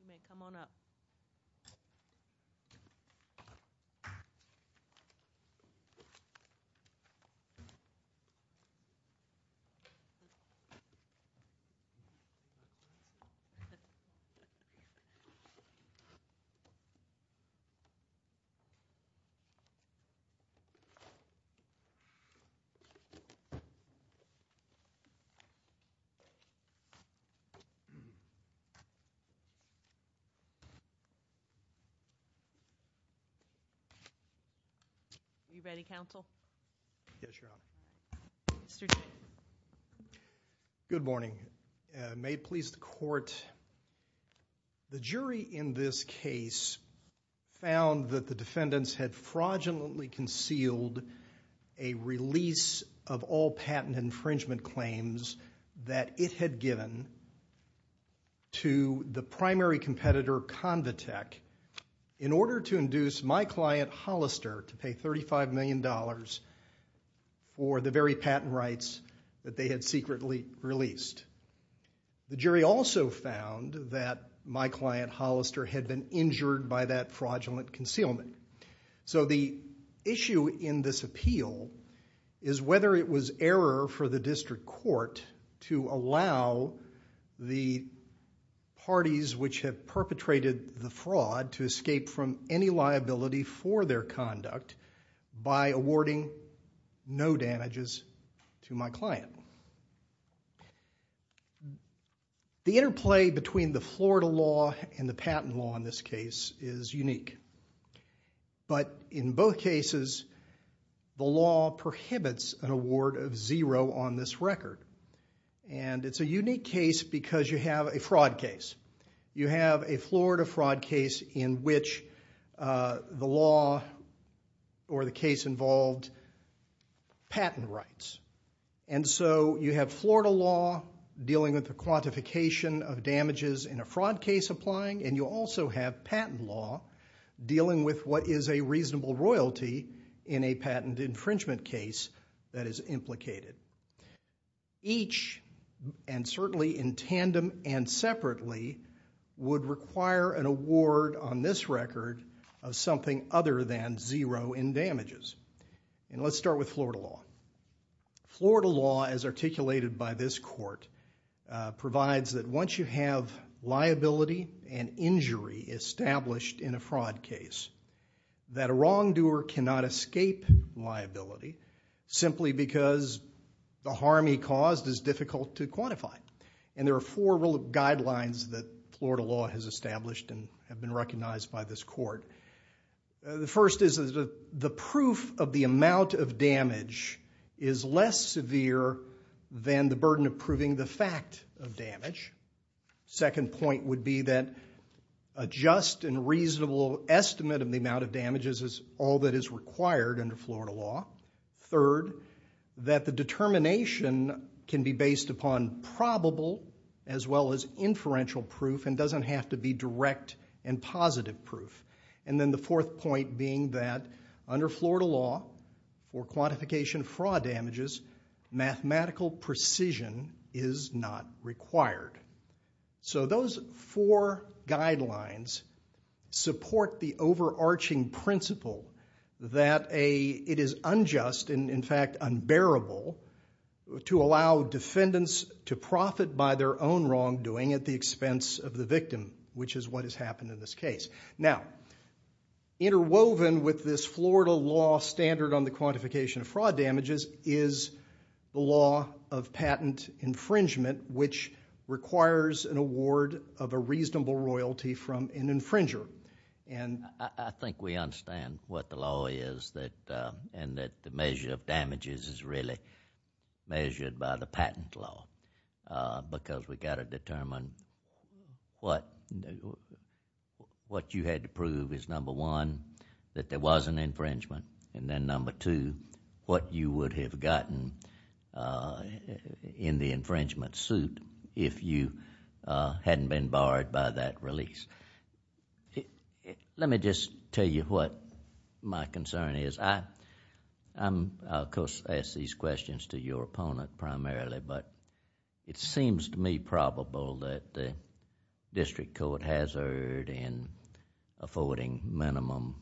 You may come on up. Good morning. May it please the Court. The jury in this case found that the defendants had fraudulently concealed a release of all to the primary competitor, Convitec, in order to induce my client Hollister to pay $35 million for the very patent rights that they had secretly released. The jury also found that my client Hollister had been injured by that fraudulent concealment. So the issue in this appeal is whether it was error for the District Court to allow the parties which have perpetrated the fraud to escape from any liability for their conduct by awarding no damages to my client. The interplay between the Florida law and the patent law in this case is unique. But in both cases, the law prohibits an award of zero on this record. And it's a unique case because you have a fraud case. You have a Florida fraud case in which the law or the case involved patent rights. And so you have Florida law dealing with the quantification of damages in a fraud case applying and you also have patent law dealing with what is a reasonable royalty in a patent infringement case that is implicated. Each, and certainly in tandem and separately, would require an award on this record of something other than zero in damages. And let's start with Florida law. Florida law, as articulated by this court, provides that once you have liability and injury established in a fraud case, that a wrongdoer cannot escape liability simply because the harm he caused is difficult to quantify. And there are four guidelines that Florida law has established and have been recognized by this court. The first is the proof of the amount of damage is less severe than the burden of proving the fact of damage. Second point would be that a just and reasonable estimate of the amount of damages is all that is required under Florida law. Third, that the determination can be based upon probable as well as inferential proof and doesn't have to be direct and positive proof. And then the fourth point being that under Florida law for quantification of fraud damages, mathematical precision is not required. So those four guidelines support the overarching principle that it is unjust and in fact unbearable to allow defendants to profit by their own wrongdoing at the expense of the victim, which is what has happened in this case. Now, interwoven with this Florida law standard on the quantification of fraud damages is the law of patent infringement, which requires an award of a reasonable royalty from an infringer. And I think we understand what the law is and that the measure of damages is really measured by the patent law because we've got to determine what you had to prove is number one, that there was an infringement, and then number two, what you would have gotten in the infringement suit if you hadn't been barred by that release. Let me just tell you what my concern is. I, of course, ask these questions to your opponent primarily, but it seems to me probable that the district court has erred in affording minimum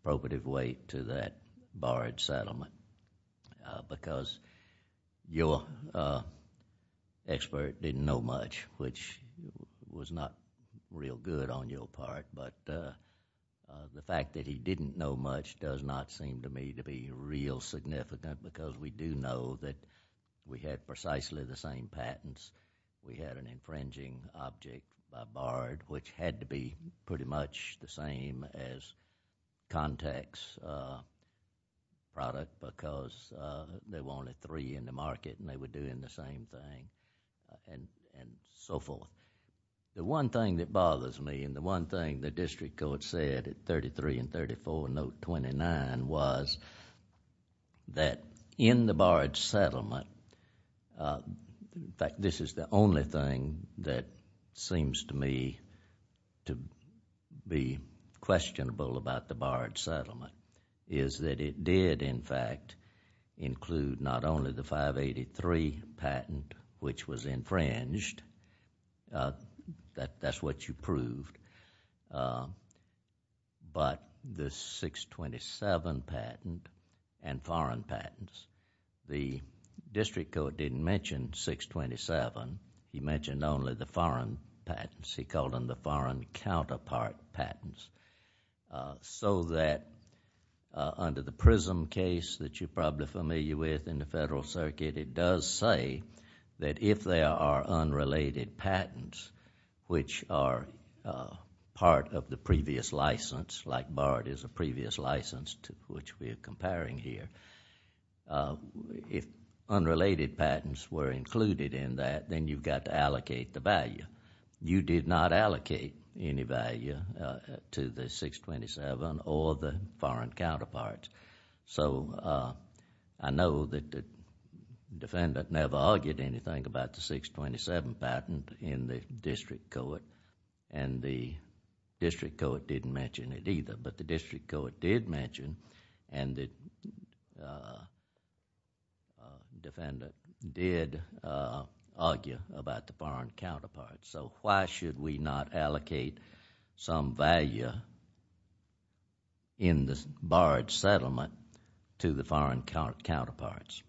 appropriate weight to that barred settlement because your expert didn't know much, which was not real good on your part, but the fact that he didn't know much does not seem to me to be real significant because we do know that we had precisely the same patents. We had an infringing object barred, which had to be pretty much the same as context product because there were only three in the market and they were doing the same thing and so forth. The one thing that bothers me and the one thing the district court said at 33 and 34 note 29 was that in the barred settlement, in fact, this is the only thing that seems to me to be questionable about the barred settlement, is that it did, in fact, include not only the 583 patent, which was infringed, that's what you proved, but the 627 patent and foreign patents. The district court didn't mention 627. He mentioned only the foreign patents. He called them the foreign counterpart patents so that under the PRISM case that you're probably familiar with in the Federal Circuit, it does say that if there are unrelated patents, which are part of the previous license, like barred is a previous license to which we're comparing here, if unrelated patents were included in that, then you've got to allocate the value. You did not allocate any value to the 627 or the foreign counterparts. I know that the defendant never argued anything about the 627 patent in the district court and the district court didn't mention it either, but the district court did mention and the defendant did argue about the foreign counterparts. Why should we not allocate some value in the barred settlement to the foreign counterparts?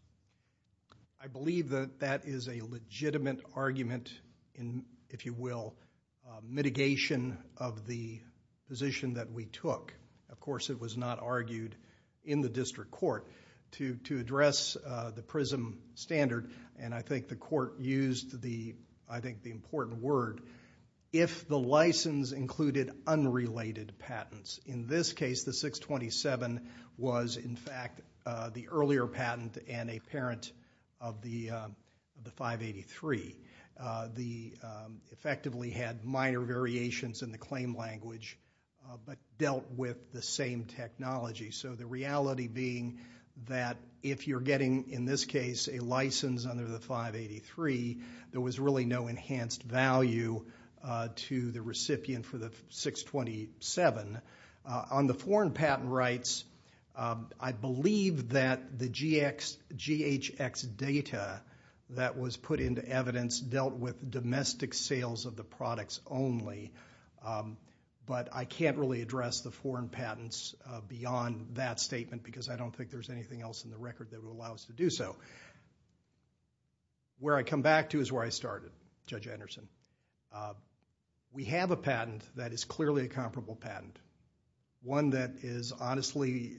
I believe that that is a legitimate argument in, if you will, mitigation of the position that we took. Of course, it was not argued in the district court to address the PRISM standard and I think the court used the important word, if the license included unrelated patents. In this case, the 627 was in fact the earlier patent and a parent of the 583. The effectively had minor variations in the claim language but dealt with the same technology. The reality being that if you're getting, in this case, a license under the 583, there was really no enhanced value to the recipient for the 627. On the foreign patent rights, I believe that the GHX data that was put into evidence dealt with domestic sales of the products only, but I can't really address the foreign patents beyond that statement because I don't think there's anything else in the record that would allow us to do so. Where I come back to is where I started, Judge Anderson. We have a patent that is clearly a comparable patent. One that is honestly,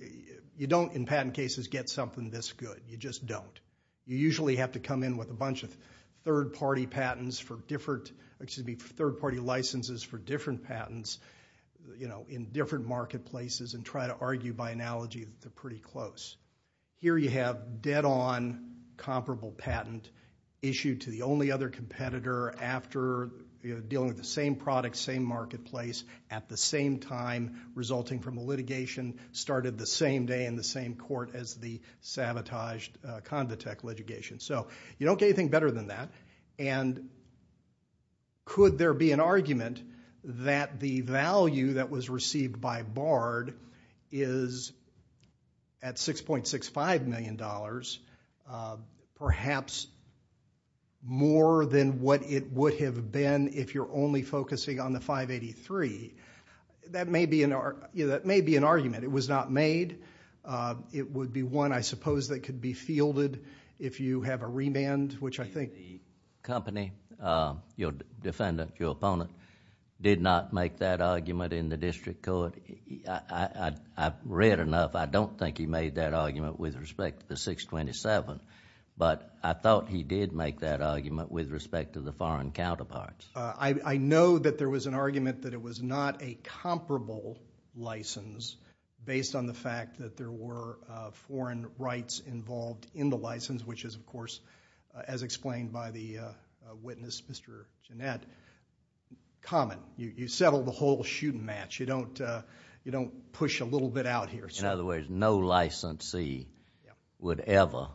you don't, in patent cases, get something this good. You just don't. You usually have to come in with a bunch of third party licenses for different patents in different marketplaces and try to argue by analogy that they're pretty close. Here you have dead on comparable patent issued to the only other competitor after dealing with the same product, same marketplace, at the same time resulting from a litigation started the same day in the same court as the sabotaged Convitec litigation. You don't get anything better than that. And could there be an argument that the value that was received by Bard is at $6.65 million, perhaps more than what it would have been if you're only focusing on the 583? That may be an argument. It was not made. It would be one, I suppose, that could be fielded if you have a remand, which I think the company, your defendant, your opponent, did not make that argument in the district court. I've read enough. I don't think he made that argument with respect to the 627, but I thought he did make that argument with respect to the foreign counterparts. I know that there was an argument that it was not a comparable license based on the as explained by the witness, Mr. Gennett, common. You settle the whole shooting match. You don't push a little bit out here. In other words, no licensee would ever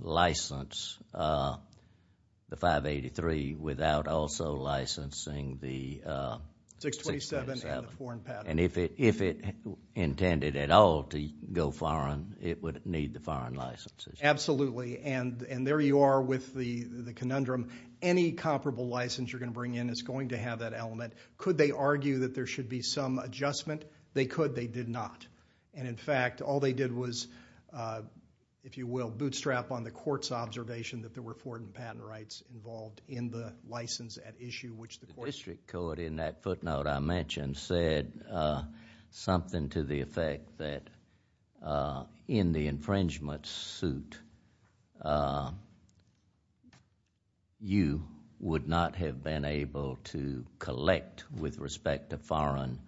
license the 583 without also licensing the 627 and the foreign patent. And if it intended at all to go foreign, it would need the foreign licenses. Absolutely, and there you are with the conundrum. Any comparable license you're going to bring in is going to have that element. Could they argue that there should be some adjustment? They could. They did not. And in fact, all they did was, if you will, bootstrap on the court's observation that there were foreign patent rights involved in the license at issue, which the court... The district court in that footnote I mentioned said something to the effect that in the infringement suit, you would not have been able to collect with respect to foreign...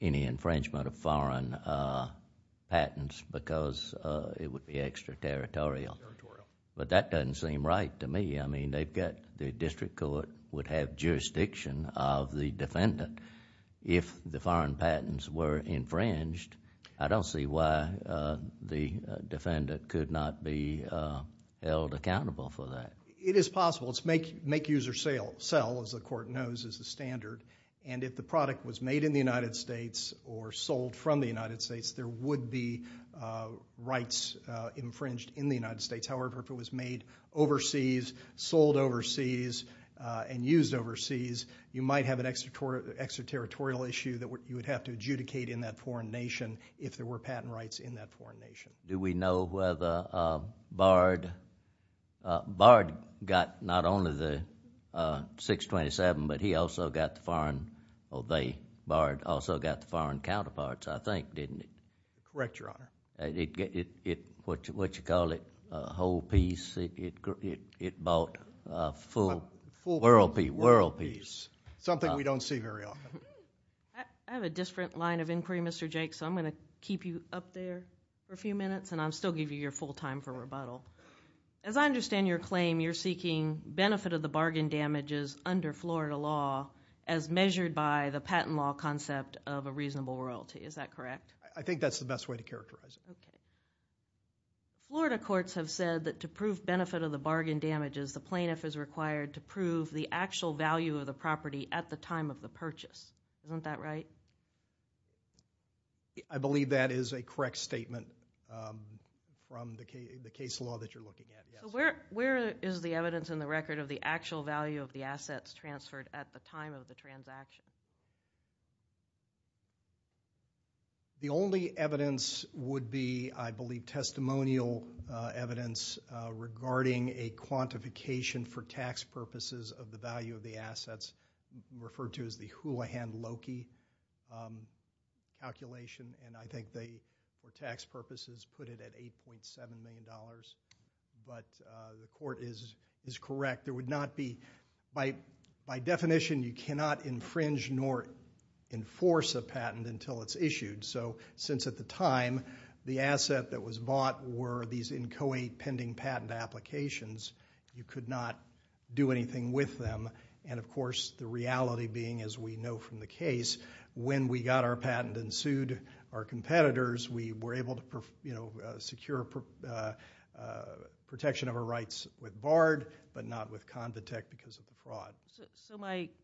any infringement of foreign patents because it would be extraterritorial. But that doesn't seem right to me. I mean, they've got... the district court would have jurisdiction of the defendant. If the foreign patents were infringed, I don't see why the defendant could not be held accountable for that. It is possible. It's make user sell, as the court knows, is the standard. And if the product was made in the United States or sold from the United States, there would be rights infringed in the United States. However, if it was made overseas, sold overseas, and used overseas, you might have an extraterritorial issue that you would have to adjudicate in that foreign nation if there were patent rights in that foreign nation. Do we know whether Bard... Bard got not only the 627, but he also got the foreign... or they, Bard, also got the foreign counterparts, I think, didn't he? Correct, Your Honor. And it... what you call it, a whole piece, it bought a full world piece. Something we don't see very often. I have a different line of inquiry, Mr. Jake, so I'm going to keep you up there for a few minutes and I'll still give you your full time for rebuttal. As I understand your claim, you're seeking benefit of the bargain damages under Florida law as measured by the patent law concept of a reasonable royalty. Is that correct? I think that's the best way to characterize it. Okay. Florida courts have said that to prove benefit of the bargain damages, the plaintiff is required to prove the actual value of the property at the time of the purchase. Isn't that right? I believe that is a correct statement from the case law that you're looking at, yes. Where is the evidence in the record of the actual value of the assets transferred at the time of the transaction? The only evidence would be, I believe, testimonial evidence regarding a quantification for tax purposes of the value of the assets, referred to as the Houlihan-Loki calculation, and I think they, for tax purposes, put it at $8.7 million, but the court is correct. By definition, you cannot infringe nor enforce a patent until it's issued. Since at the time, the asset that was bought were these incoate pending patent applications, you could not do anything with them, and of course, the reality being, as we know from the case, when we got our patent and sued our competitors, we were able to secure protection of our rights with BARD, but not with Convitec because of the fraud.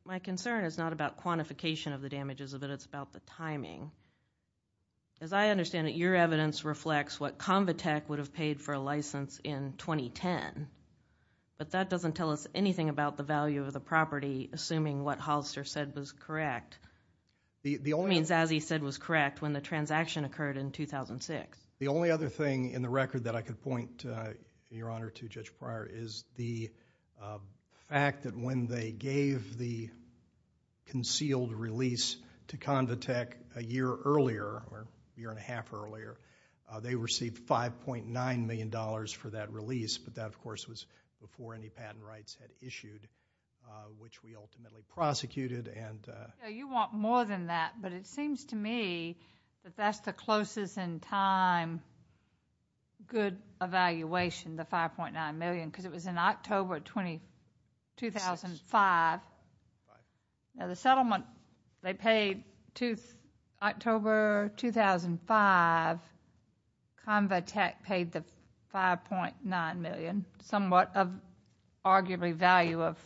My concern is not about quantification of the damages of it, it's about the timing. As I understand it, your evidence reflects what Convitec would have paid for a license in 2010, but that doesn't tell us anything about the value of the property, assuming what Hollister said was correct, as he said was correct when the transaction occurred in 2006. The only other thing in the record that I could point, Your Honor, to Judge Pryor is the fact that when they gave the concealed release to Convitec a year earlier, or a year and a half earlier, they received $5.9 million for that release, but that, of course, was before any patent rights had issued, which we ultimately prosecuted. You want more than that, but it seems to me that that's the closest in time good evaluation, the $5.9 million, because it was in October 2005. The settlement they paid October 2005, Convitec paid the $5.9 million, somewhat of arguably value of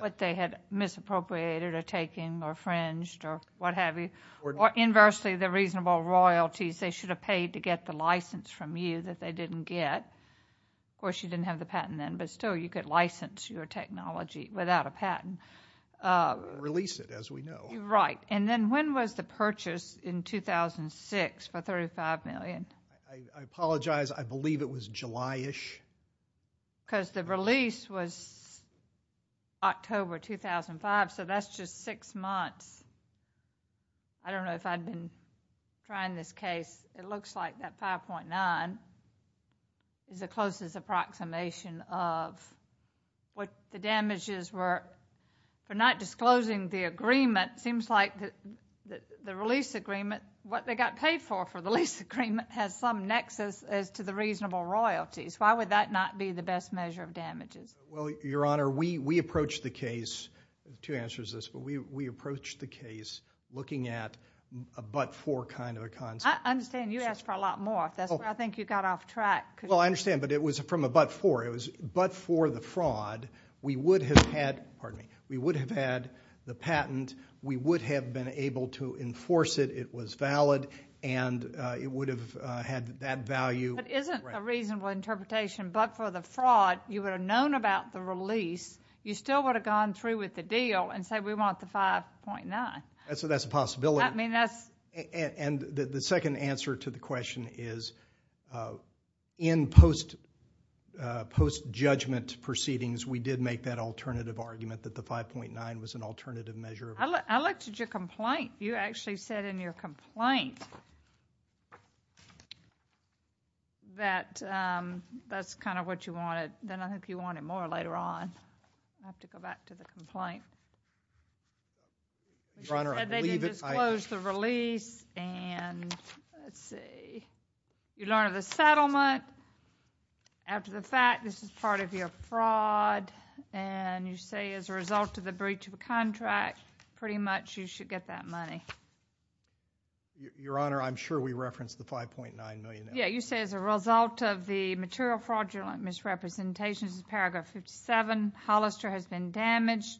what they had misappropriated or taken or fringed or what have you, or inversely, the reasonable royalties they should have paid to get the license from you that they didn't get. Of course, you didn't have the patent then, but still, you could license your technology without a patent. We'll release it, as we know. Right. Then when was the purchase in 2006 for $35 million? I apologize. I believe it was July-ish. Because the release was October 2005, so that's just six months. I don't know if I'd been trying this case. It looks like that $5.9 is the closest approximation of what the damages were. Not disclosing the agreement, it seems like the release agreement, what they got paid for for the lease agreement, has some nexus as to the reasonable royalties. Why would that not be the best measure of damages? Well, Your Honor, we approached the case, two answers to this, but we approached the case looking at a but-for kind of a concept. I understand you asked for a lot more. That's why I think you got off track. Well, I understand, but it was from a but-for. It was but-for the fraud. We would have had the patent. We would have been able to enforce it. It was valid, and it would have had that value. But isn't a reasonable interpretation, but for the fraud, you would have known about the release. You still would have gone through with the deal and said, we want the $5.9. So that's a possibility. And the second answer to the question is, in post-judgment proceedings, we did make that alternative argument that the $5.9 was an alternative measure. I looked at your complaint. You actually said in your complaint that that's kind of what you wanted, that I hope you want it more later on. I have to go back to the complaint. Your Honor, I believe it. You said they didn't disclose the release, and let's see, you learned of the settlement. After the fact, this is part of your fraud, and you say, as a result of the breach of that money. Your Honor, I'm sure we referenced the $5.9 million. Yeah, you say, as a result of the material fraudulent misrepresentations in paragraph 57, Hollister has been damaged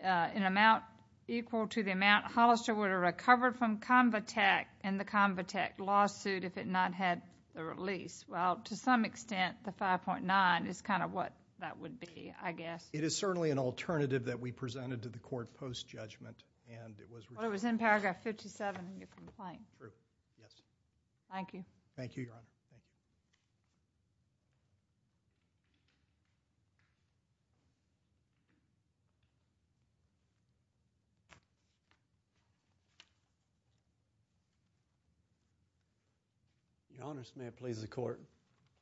in an amount equal to the amount Hollister would have recovered from Convitec in the Convitec lawsuit if it not had the release. Well, to some extent, the $5.9 is kind of what that would be, I guess. It is certainly an alternative that we presented to the court post-judgment, and it was rejected. Well, it was in paragraph 57 in your complaint. True. Yes. Thank you. Thank you, Your Honor. Thank you. Your Honor, may it please the court,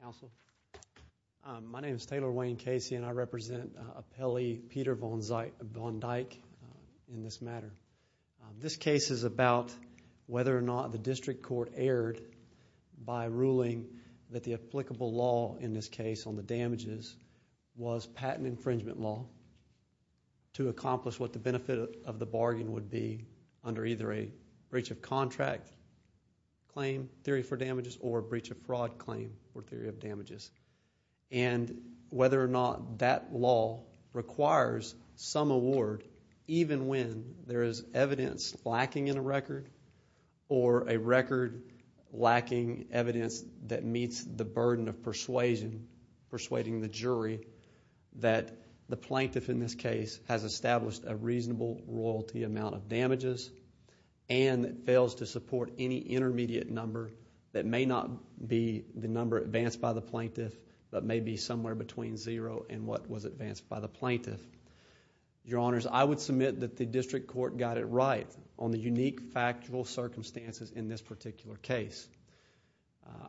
counsel. My name is Taylor Wayne Casey, and I represent Appellee Peter Von Dyke in this matter. This case is about whether or not the district court erred by ruling that the applicable law in this case on the damages was patent infringement law to accomplish what the benefit of the bargain would be under either a breach of contract claim, theory for damages, or And whether or not that law requires some award even when there is evidence lacking in a record or a record lacking evidence that meets the burden of persuasion, persuading the jury that the plaintiff in this case has established a reasonable royalty amount of damages and fails to support any intermediate number that may not be the number advanced by the plaintiff but may be somewhere between zero and what was advanced by the plaintiff. Your Honors, I would submit that the district court got it right on the unique factual circumstances in this particular case.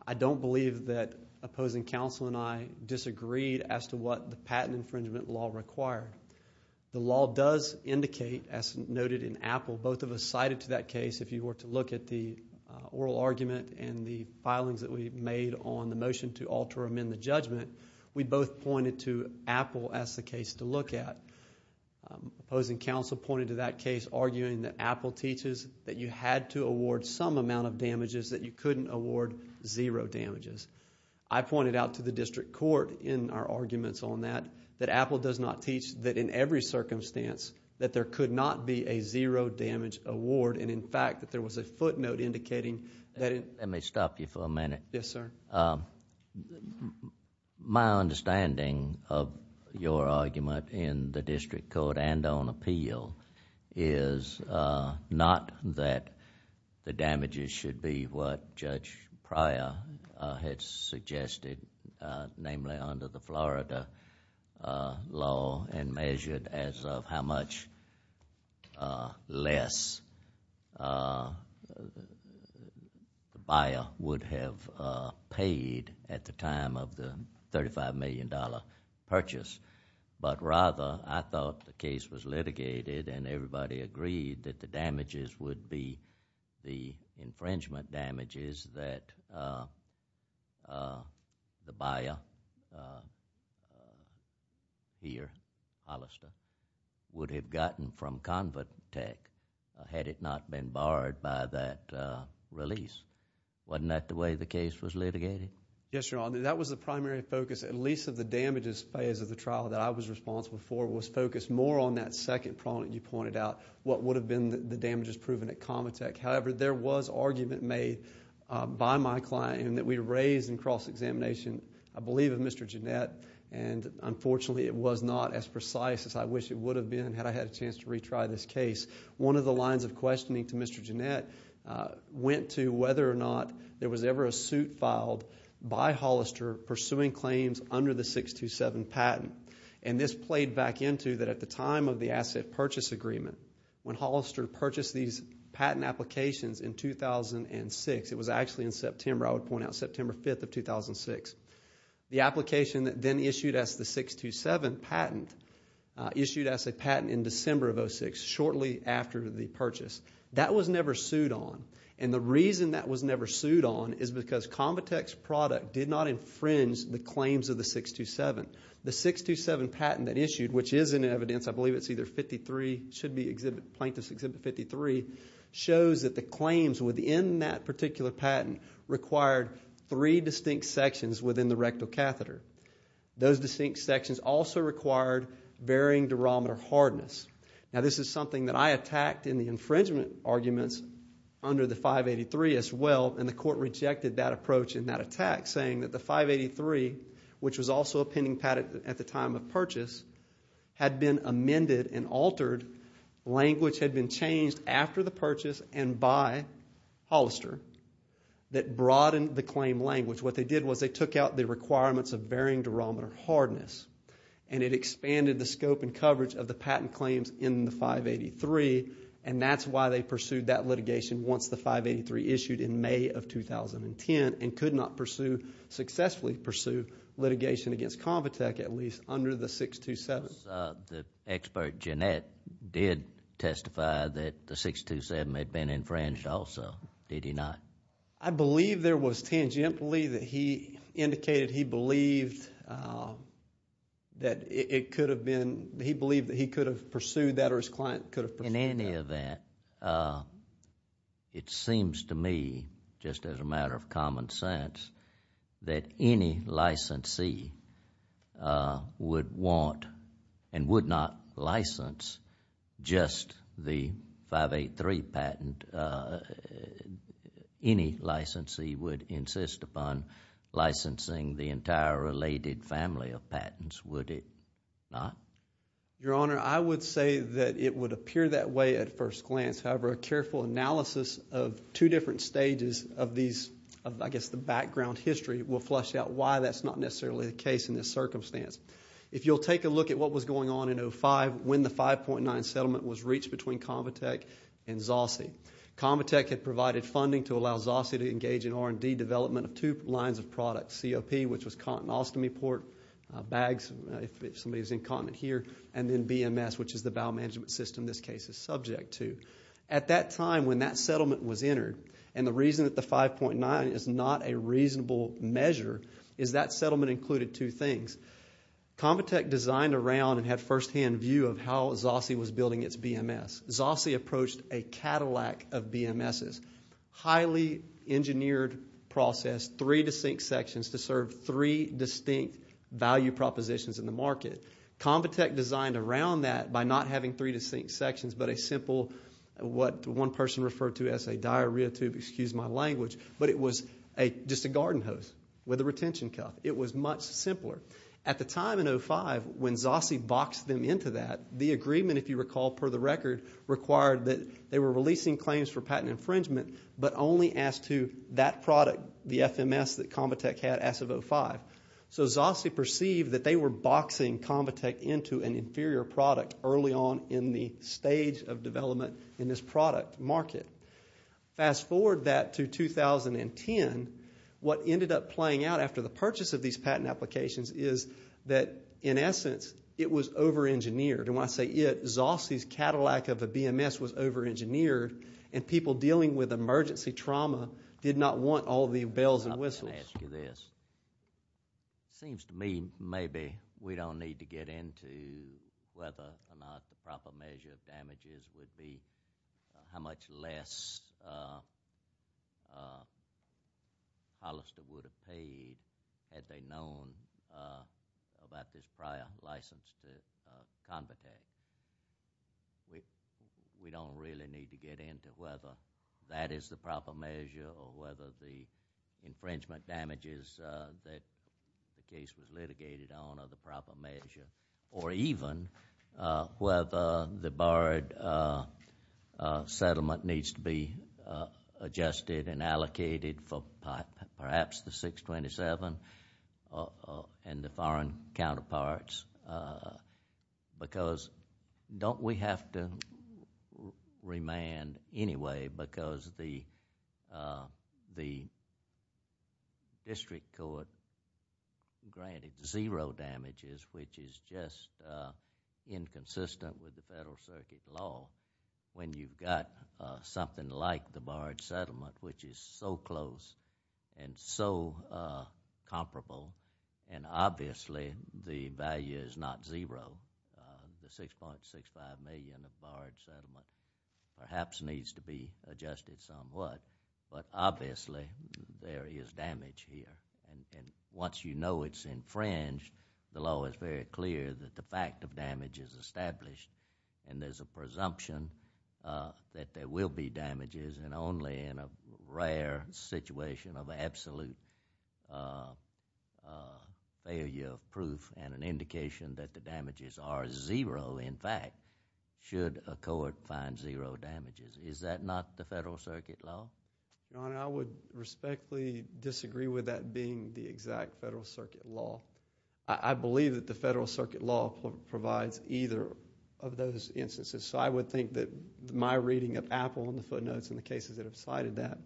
I don't believe that opposing counsel and I disagreed as to what the patent infringement law required. The law does indicate, as noted in Appell, both of us cited to that case, if you were to look at the oral argument and the filings that we made on the motion to alter or amend the judgment, we both pointed to Appell as the case to look at. Opposing counsel pointed to that case arguing that Appell teaches that you had to award some amount of damages that you couldn't award zero damages. I pointed out to the district court in our arguments on that that Appell does not teach that in every circumstance that there could not be a zero damage award and in fact that there was a footnote indicating that...... Let me stop you for a minute. Yes, sir. My understanding of your argument in the district court and on appeal is not that the damages should be what Judge Pryor had suggested, namely under the Florida law and measured as of how much less the buyer would have paid at the time of the $35 million purchase, but rather I thought the case was litigated and everybody agreed that the damages would be the infringement damages that the buyer here, Hollister, would have gotten from Convitec had it not been barred by that release. Wasn't that the way the case was litigated? Yes, Your Honor. That was the primary focus at least of the damages phase of the trial that I was responsible for was focused more on that second prong that you pointed out, what would have been the damages proven at Convitec. However, there was argument made by my client that we raised in cross-examination, I believe of Mr. Gennett, and unfortunately it was not as precise as I wish it would have been had I had a chance to retry this case. One of the lines of questioning to Mr. Gennett went to whether or not there was ever a suit filed by Hollister pursuing claims under the 627 patent, and this played back into that at the time of the asset purchase agreement when Hollister purchased these patent applications in 2006. It was actually in September, I would point out, September 5th of 2006. The application that then issued as the 627 patent issued as a patent in December of 2006, shortly after the purchase. That was never sued on, and the reason that was never sued on is because Convitec's product did not infringe the claims of the 627. The 627 patent that issued, which is in evidence, I believe it's either 53, should be exhibit, plaintiff's exhibit 53, shows that the claims within that particular patent required three distinct sections within the rectal catheter. Those distinct sections also required varying durometer hardness. Now, this is something that I attacked in the infringement arguments under the 583 as well, and the court rejected that approach and that attack, saying that the 583, which was also a pending patent at the time of purchase, had been amended and altered, language had been changed after the purchase and by Hollister that broadened the claim language. What they did was they took out the requirements of varying durometer hardness, and it expanded the scope and coverage of the patent claims in the 583, and that's why they pursued that litigation once the 583 issued in May of 2010 and could not pursue, successfully pursue litigation against Convitec, at least under the 627. The expert, Jeanette, did testify that the 627 had been infringed also, did he not? I believe there was tangentially that he indicated he believed that it could have been, he believed that he could have pursued that or his client could have pursued that. In any event, it seems to me, just as a matter of common sense, that any licensee would want and would not license just the 583 patent, any licensee would insist upon licensing the entire related family of patents, would it not? Your Honor, I would say that it would appear that way at first glance, however, a careful analysis of two different stages of these, of I guess the background history, will flush out why that's not necessarily the case in this circumstance. If you'll take a look at what was going on in 05, when the 5.9 settlement was reached between Convitec and Zossi, Convitec had provided funding to allow Zossi to engage in R&D development of two lines of product, COP, which was Continostomy port bags, if somebody is incontinent here, and then BMS, which is the bowel management system this case is subject to. At that time, when that settlement was entered, and the reason that the 5.9 is not a reasonable measure is that settlement included two things. Convitec designed around and had firsthand view of how Zossi was building its BMS. Zossi approached a Cadillac of BMSs, highly engineered process, three distinct sections to serve three distinct value propositions in the market. Convitec designed around that by not having three distinct sections, but a simple, what one person referred to as a diarrhea tube, excuse my language, but it was just a garden hose with a retention cuff. It was much simpler. At the time in 05, when Zossi boxed them into that, the agreement, if you recall, per the record, required that they were releasing claims for patent infringement, but only as to that product, the FMS that Convitec had as of 05. Zossi perceived that they were boxing Convitec into an inferior product early on in the stage of development in this product market. Fast forward that to 2010, what ended up playing out after the purchase of these patent applications is that, in essence, it was over-engineered, and when I say it, Zossi's Cadillac of a BMS was over-engineered, and people dealing with emergency trauma did not want all the bells and whistles. I'm going to ask you this. It seems to me maybe we don't need to get into whether or not the proper measure of the infringement damages that the case was litigated on are the proper measure, or even whether the borrowed settlement needs to be adjusted and allocated for perhaps the 627 and the foreign counterparts, because don't we have to remand anyway, because the district court granted zero damages, which is just inconsistent with the Federal Circuit law when you've got something like the borrowed settlement, which is so close and so comparable, and obviously the value is not zero, the 6.65 million of borrowed settlement perhaps needs to be adjusted somewhat, but obviously there is damage here, and once you know it's infringed, the law is very clear that the fact of damage is established, and there's a presumption that there will be damages, and only in a rare situation of absolute failure of proof and an indication that the damages are zero, in fact, should a court find zero damages. Is that not the Federal Circuit law? Your Honor, I would respectfully disagree with that being the exact Federal Circuit law. I believe that the Federal Circuit law provides either of those instances, so I would think that my reading of Apple and the footnotes and the cases that have cited that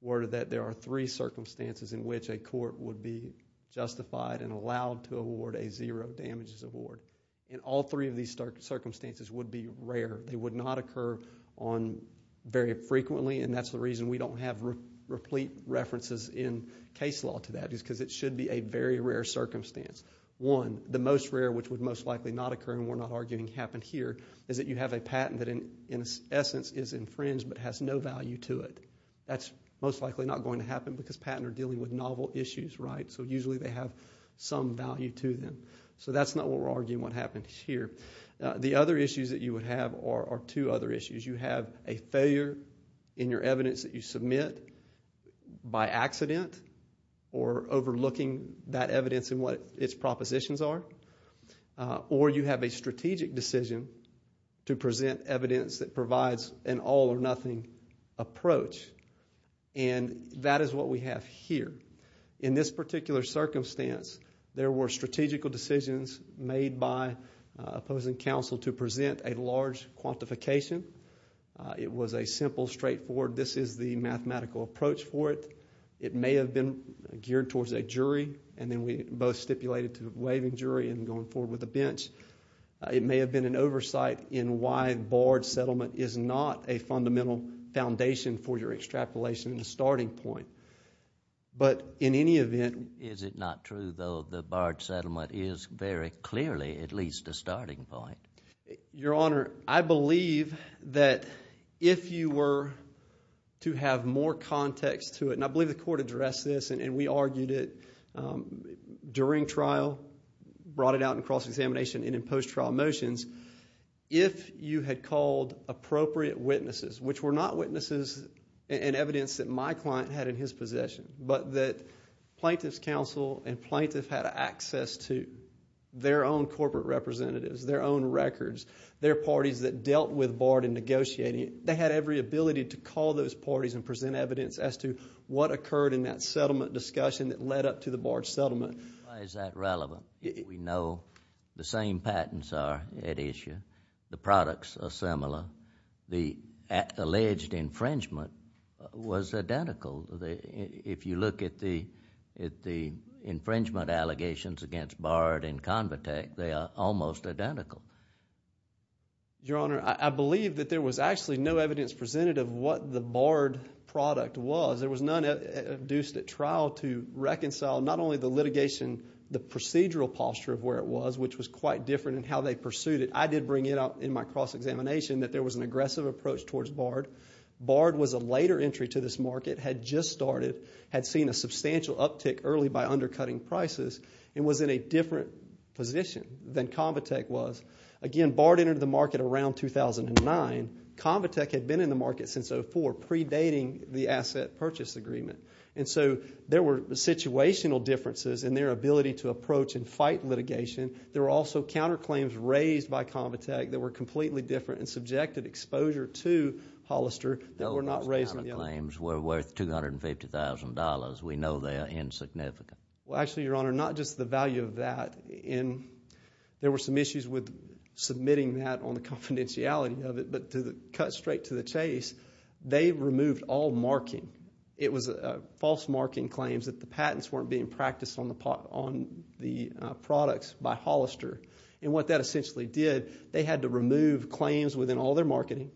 were that there are three circumstances in which a court would be justified and allowed to award a zero damages award, and all three of these circumstances would be rare. They would not occur very frequently, and that's the reason we don't have replete references in case law to that, because it should be a very rare circumstance. One, the most rare, which would most likely not occur, and we're not arguing happened here, is that you have a patent that in essence is infringed but has no value to it. That's most likely not going to happen because patents are dealing with novel issues, right? So usually they have some value to them. So that's not what we're arguing what happened here. The other issues that you would have are two other issues. You have a failure in your evidence that you submit by accident or overlooking that evidence and what its propositions are, or you have a strategic decision to present evidence that provides an all or nothing approach, and that is what we have here. In this particular circumstance, there were strategical decisions made by opposing counsel to present a large quantification. It was a simple, straightforward, this is the mathematical approach for it. It may have been geared towards a jury, and then we both stipulated to waiving jury and going forward with a bench. It may have been an oversight in why barred settlement is not a fundamental foundation for your extrapolation and starting point. But in any event, is it not true, though, that barred settlement is very clearly at the starting point? Your Honor, I believe that if you were to have more context to it, and I believe the court addressed this and we argued it during trial, brought it out in cross-examination and in post-trial motions, if you had called appropriate witnesses, which were not witnesses and evidence that my client had in his possession, but that plaintiff's counsel and plaintiff had access to their own corporate representatives, their own records, their parties that dealt with barred and negotiating, they had every ability to call those parties and present evidence as to what occurred in that settlement discussion that led up to the barred settlement. Why is that relevant? We know the same patents are at issue. The products are similar. The infringement allegations against barred and convitec, they are almost identical. Your Honor, I believe that there was actually no evidence presented of what the barred product was. There was none induced at trial to reconcile not only the litigation, the procedural posture of where it was, which was quite different in how they pursued it. I did bring it up in my cross-examination that there was an aggressive approach towards barred. Barred was a later entry to this market, had just started, had seen a substantial uptick early by undercutting prices, and was in a different position than convitec was. Again, barred entered the market around 2009. Convitec had been in the market since 2004, predating the asset purchase agreement. And so there were situational differences in their ability to approach and fight litigation. There were also counterclaims raised by convitec that were completely different and subjected exposure to Hollister that were not raised in the other sellers. We know they are insignificant. Well, actually, Your Honor, not just the value of that. There were some issues with submitting that on the confidentiality of it. But to cut straight to the chase, they removed all marking. It was false marking claims that the patents weren't being practiced on the products by Hollister. And what that essentially did, they had to remove claims within all their marketing.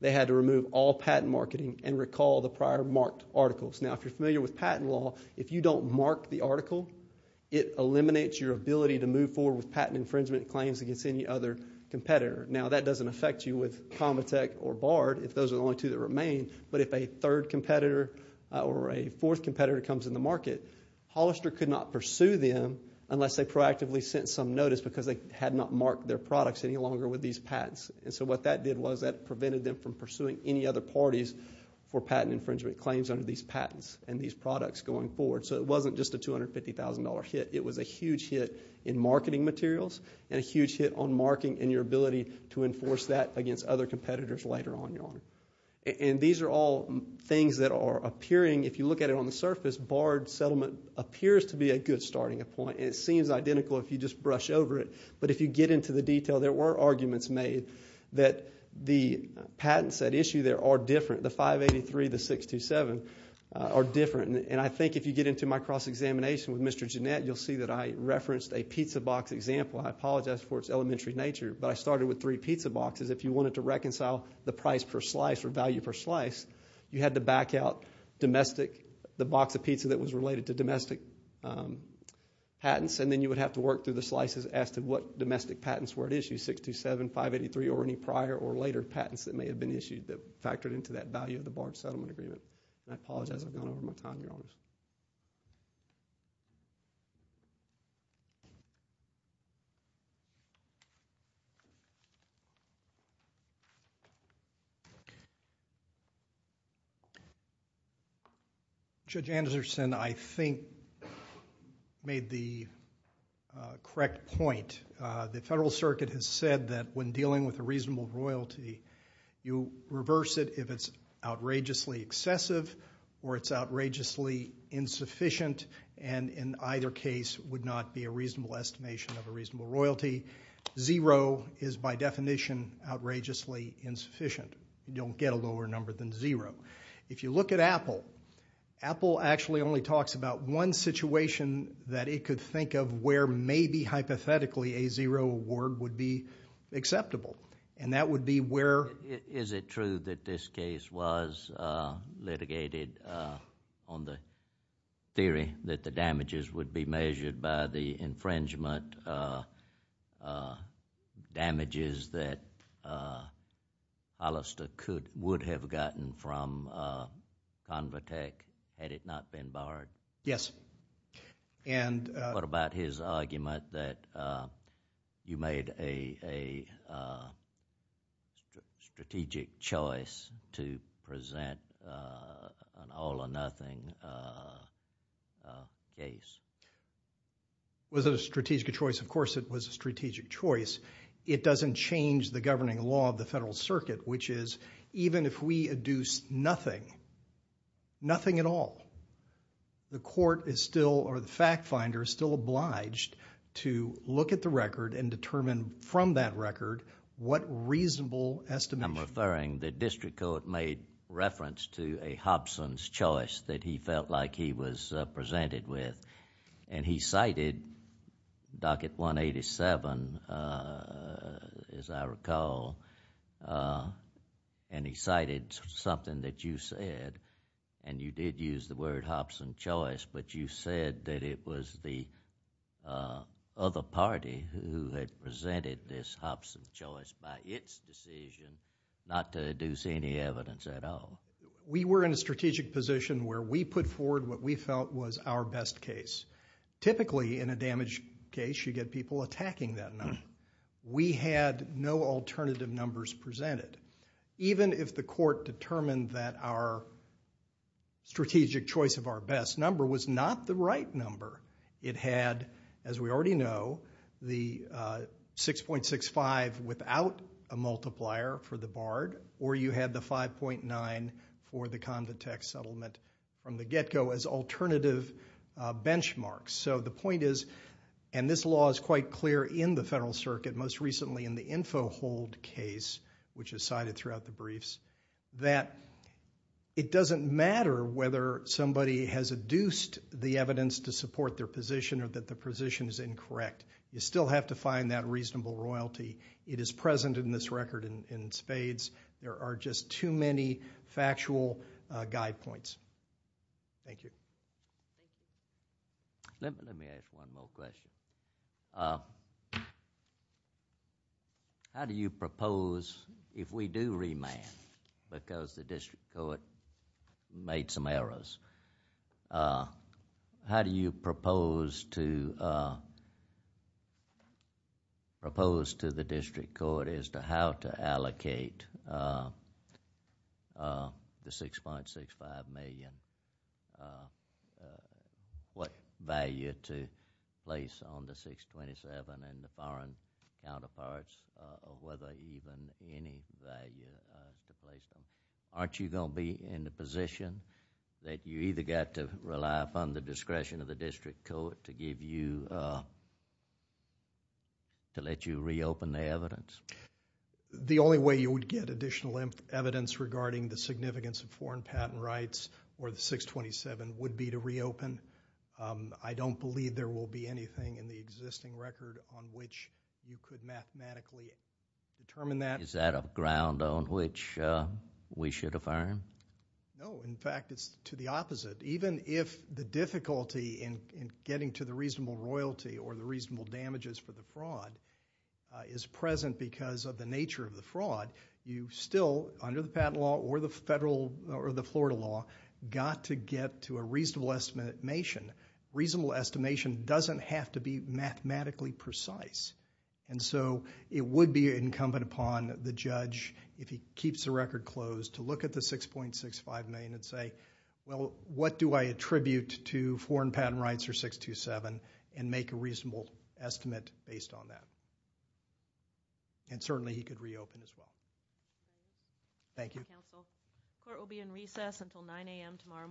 They had to remove all patent marketing and recall the prior marked articles. Now, if you're familiar with patent law, if you don't mark the article, it eliminates your ability to move forward with patent infringement claims against any other competitor. Now, that doesn't affect you with convitec or barred, if those are the only two that remain. But if a third competitor or a fourth competitor comes in the market, Hollister could not pursue them unless they proactively sent some notice because they had not marked their products any longer with these patents. And so what that did was that prevented them from pursuing any other parties for patent infringement claims under these patents and these products going forward. So it wasn't just a $250,000 hit. It was a huge hit in marketing materials and a huge hit on marking and your ability to enforce that against other competitors later on, Your Honor. And these are all things that are appearing, if you look at it on the surface, barred settlement appears to be a good starting point. And it seems identical if you just brush over it. But if you get into the detail, there were arguments made that the patents at issue there are different. The 583, the 627 are different. And I think if you get into my cross-examination with Mr. Jeanette, you'll see that I referenced a pizza box example. I apologize for its elementary nature, but I started with three pizza boxes. If you wanted to reconcile the price per slice or value per slice, you had to back out domestic, the box of pizza that was related to domestic patents. And then you would have to work through the slices as to what domestic patents were at issue, 627, 583, or any prior or later patents that may have been issued that factored into that value of the barred settlement agreement. And I apologize. I've gone over my time, Your Honor. Judge Anderson, I think, made the correct point. The Federal Circuit has said that when dealing with a reasonable royalty, you reverse it if it's outrageously excessive or it's outrageously insufficient. And in either case, it would not be a reasonable estimation of a reasonable royalty. Zero is, by definition, outrageously insufficient. You don't get a lower number than zero. If you look at Apple, Apple actually only talks about one situation that it could think of where maybe, hypothetically, a zero award would be acceptable. And that would be where... The theory that the damages would be measured by the infringement damages that Hollister would have gotten from Convotec had it not been barred? Yes. And... What about his argument that you made a strategic choice to present an all-or-nothing settlement case? Was it a strategic choice? Of course, it was a strategic choice. It doesn't change the governing law of the Federal Circuit, which is even if we adduce nothing, nothing at all, the court is still, or the fact finder is still obliged to look at the record and determine from that record what reasonable estimation... I'm referring, the district court made reference to a Hobson's Choice that he felt like he was presented with. And he cited Docket 187, as I recall, and he cited something that you said, and you did use the word Hobson's Choice, but you said that it was the other party who had presented this Hobson's Choice by its decision not to deduce any evidence at all. We were in a strategic position where we put forward what we felt was our best case. Typically, in a damaged case, you get people attacking that number. We had no alternative numbers presented. Even if the court determined that our strategic choice of our best number was not the right number, it had, as we already know, the 6.65 without a multiplier for the Bard, or you had the 5.9 for the Convitex settlement from the get-go as alternative benchmarks. So the point is, and this law is quite clear in the Federal Circuit, most recently in the Info Hold case, which is cited throughout the briefs, that it doesn't matter whether somebody has adduced the evidence to support their position or that the position is incorrect. You still have to find that reasonable royalty. It is present in this record in spades. There are just too many factual guide points. Thank you. Let me ask one more question. How do you propose, if we do remand, because the district court made some errors, how do you propose to the district court as to how to allocate the 6.65 million? What value to place on the 627 and the foreign counterparts, or whether even any value to place on it? Aren't you going to be in the position that you either got to rely upon the discretion of the district court to give you, to let you reopen the evidence? The only way you would get additional evidence regarding the significance of foreign patent rights or the 627 would be to reopen. I don't believe there will be anything in the existing record on which you could mathematically determine that. Is that a ground on which we should affirm? No. In fact, it's to the opposite. Even if the difficulty in getting to the reasonable royalty or the reasonable damages for the fraud is present because of the nature of the fraud, you still, under the patent law or the federal or the Florida law, got to a reasonable estimation. Reasonable estimation doesn't have to be mathematically precise. It would be incumbent upon the judge, if he keeps the record closed, to look at the 6.65 million and say, well, what do I attribute to foreign patent rights or 627, and make a reasonable estimate based on that. Certainly, he could reopen as well. Thank you. Court will be in recess until 9 a.m. tomorrow morning.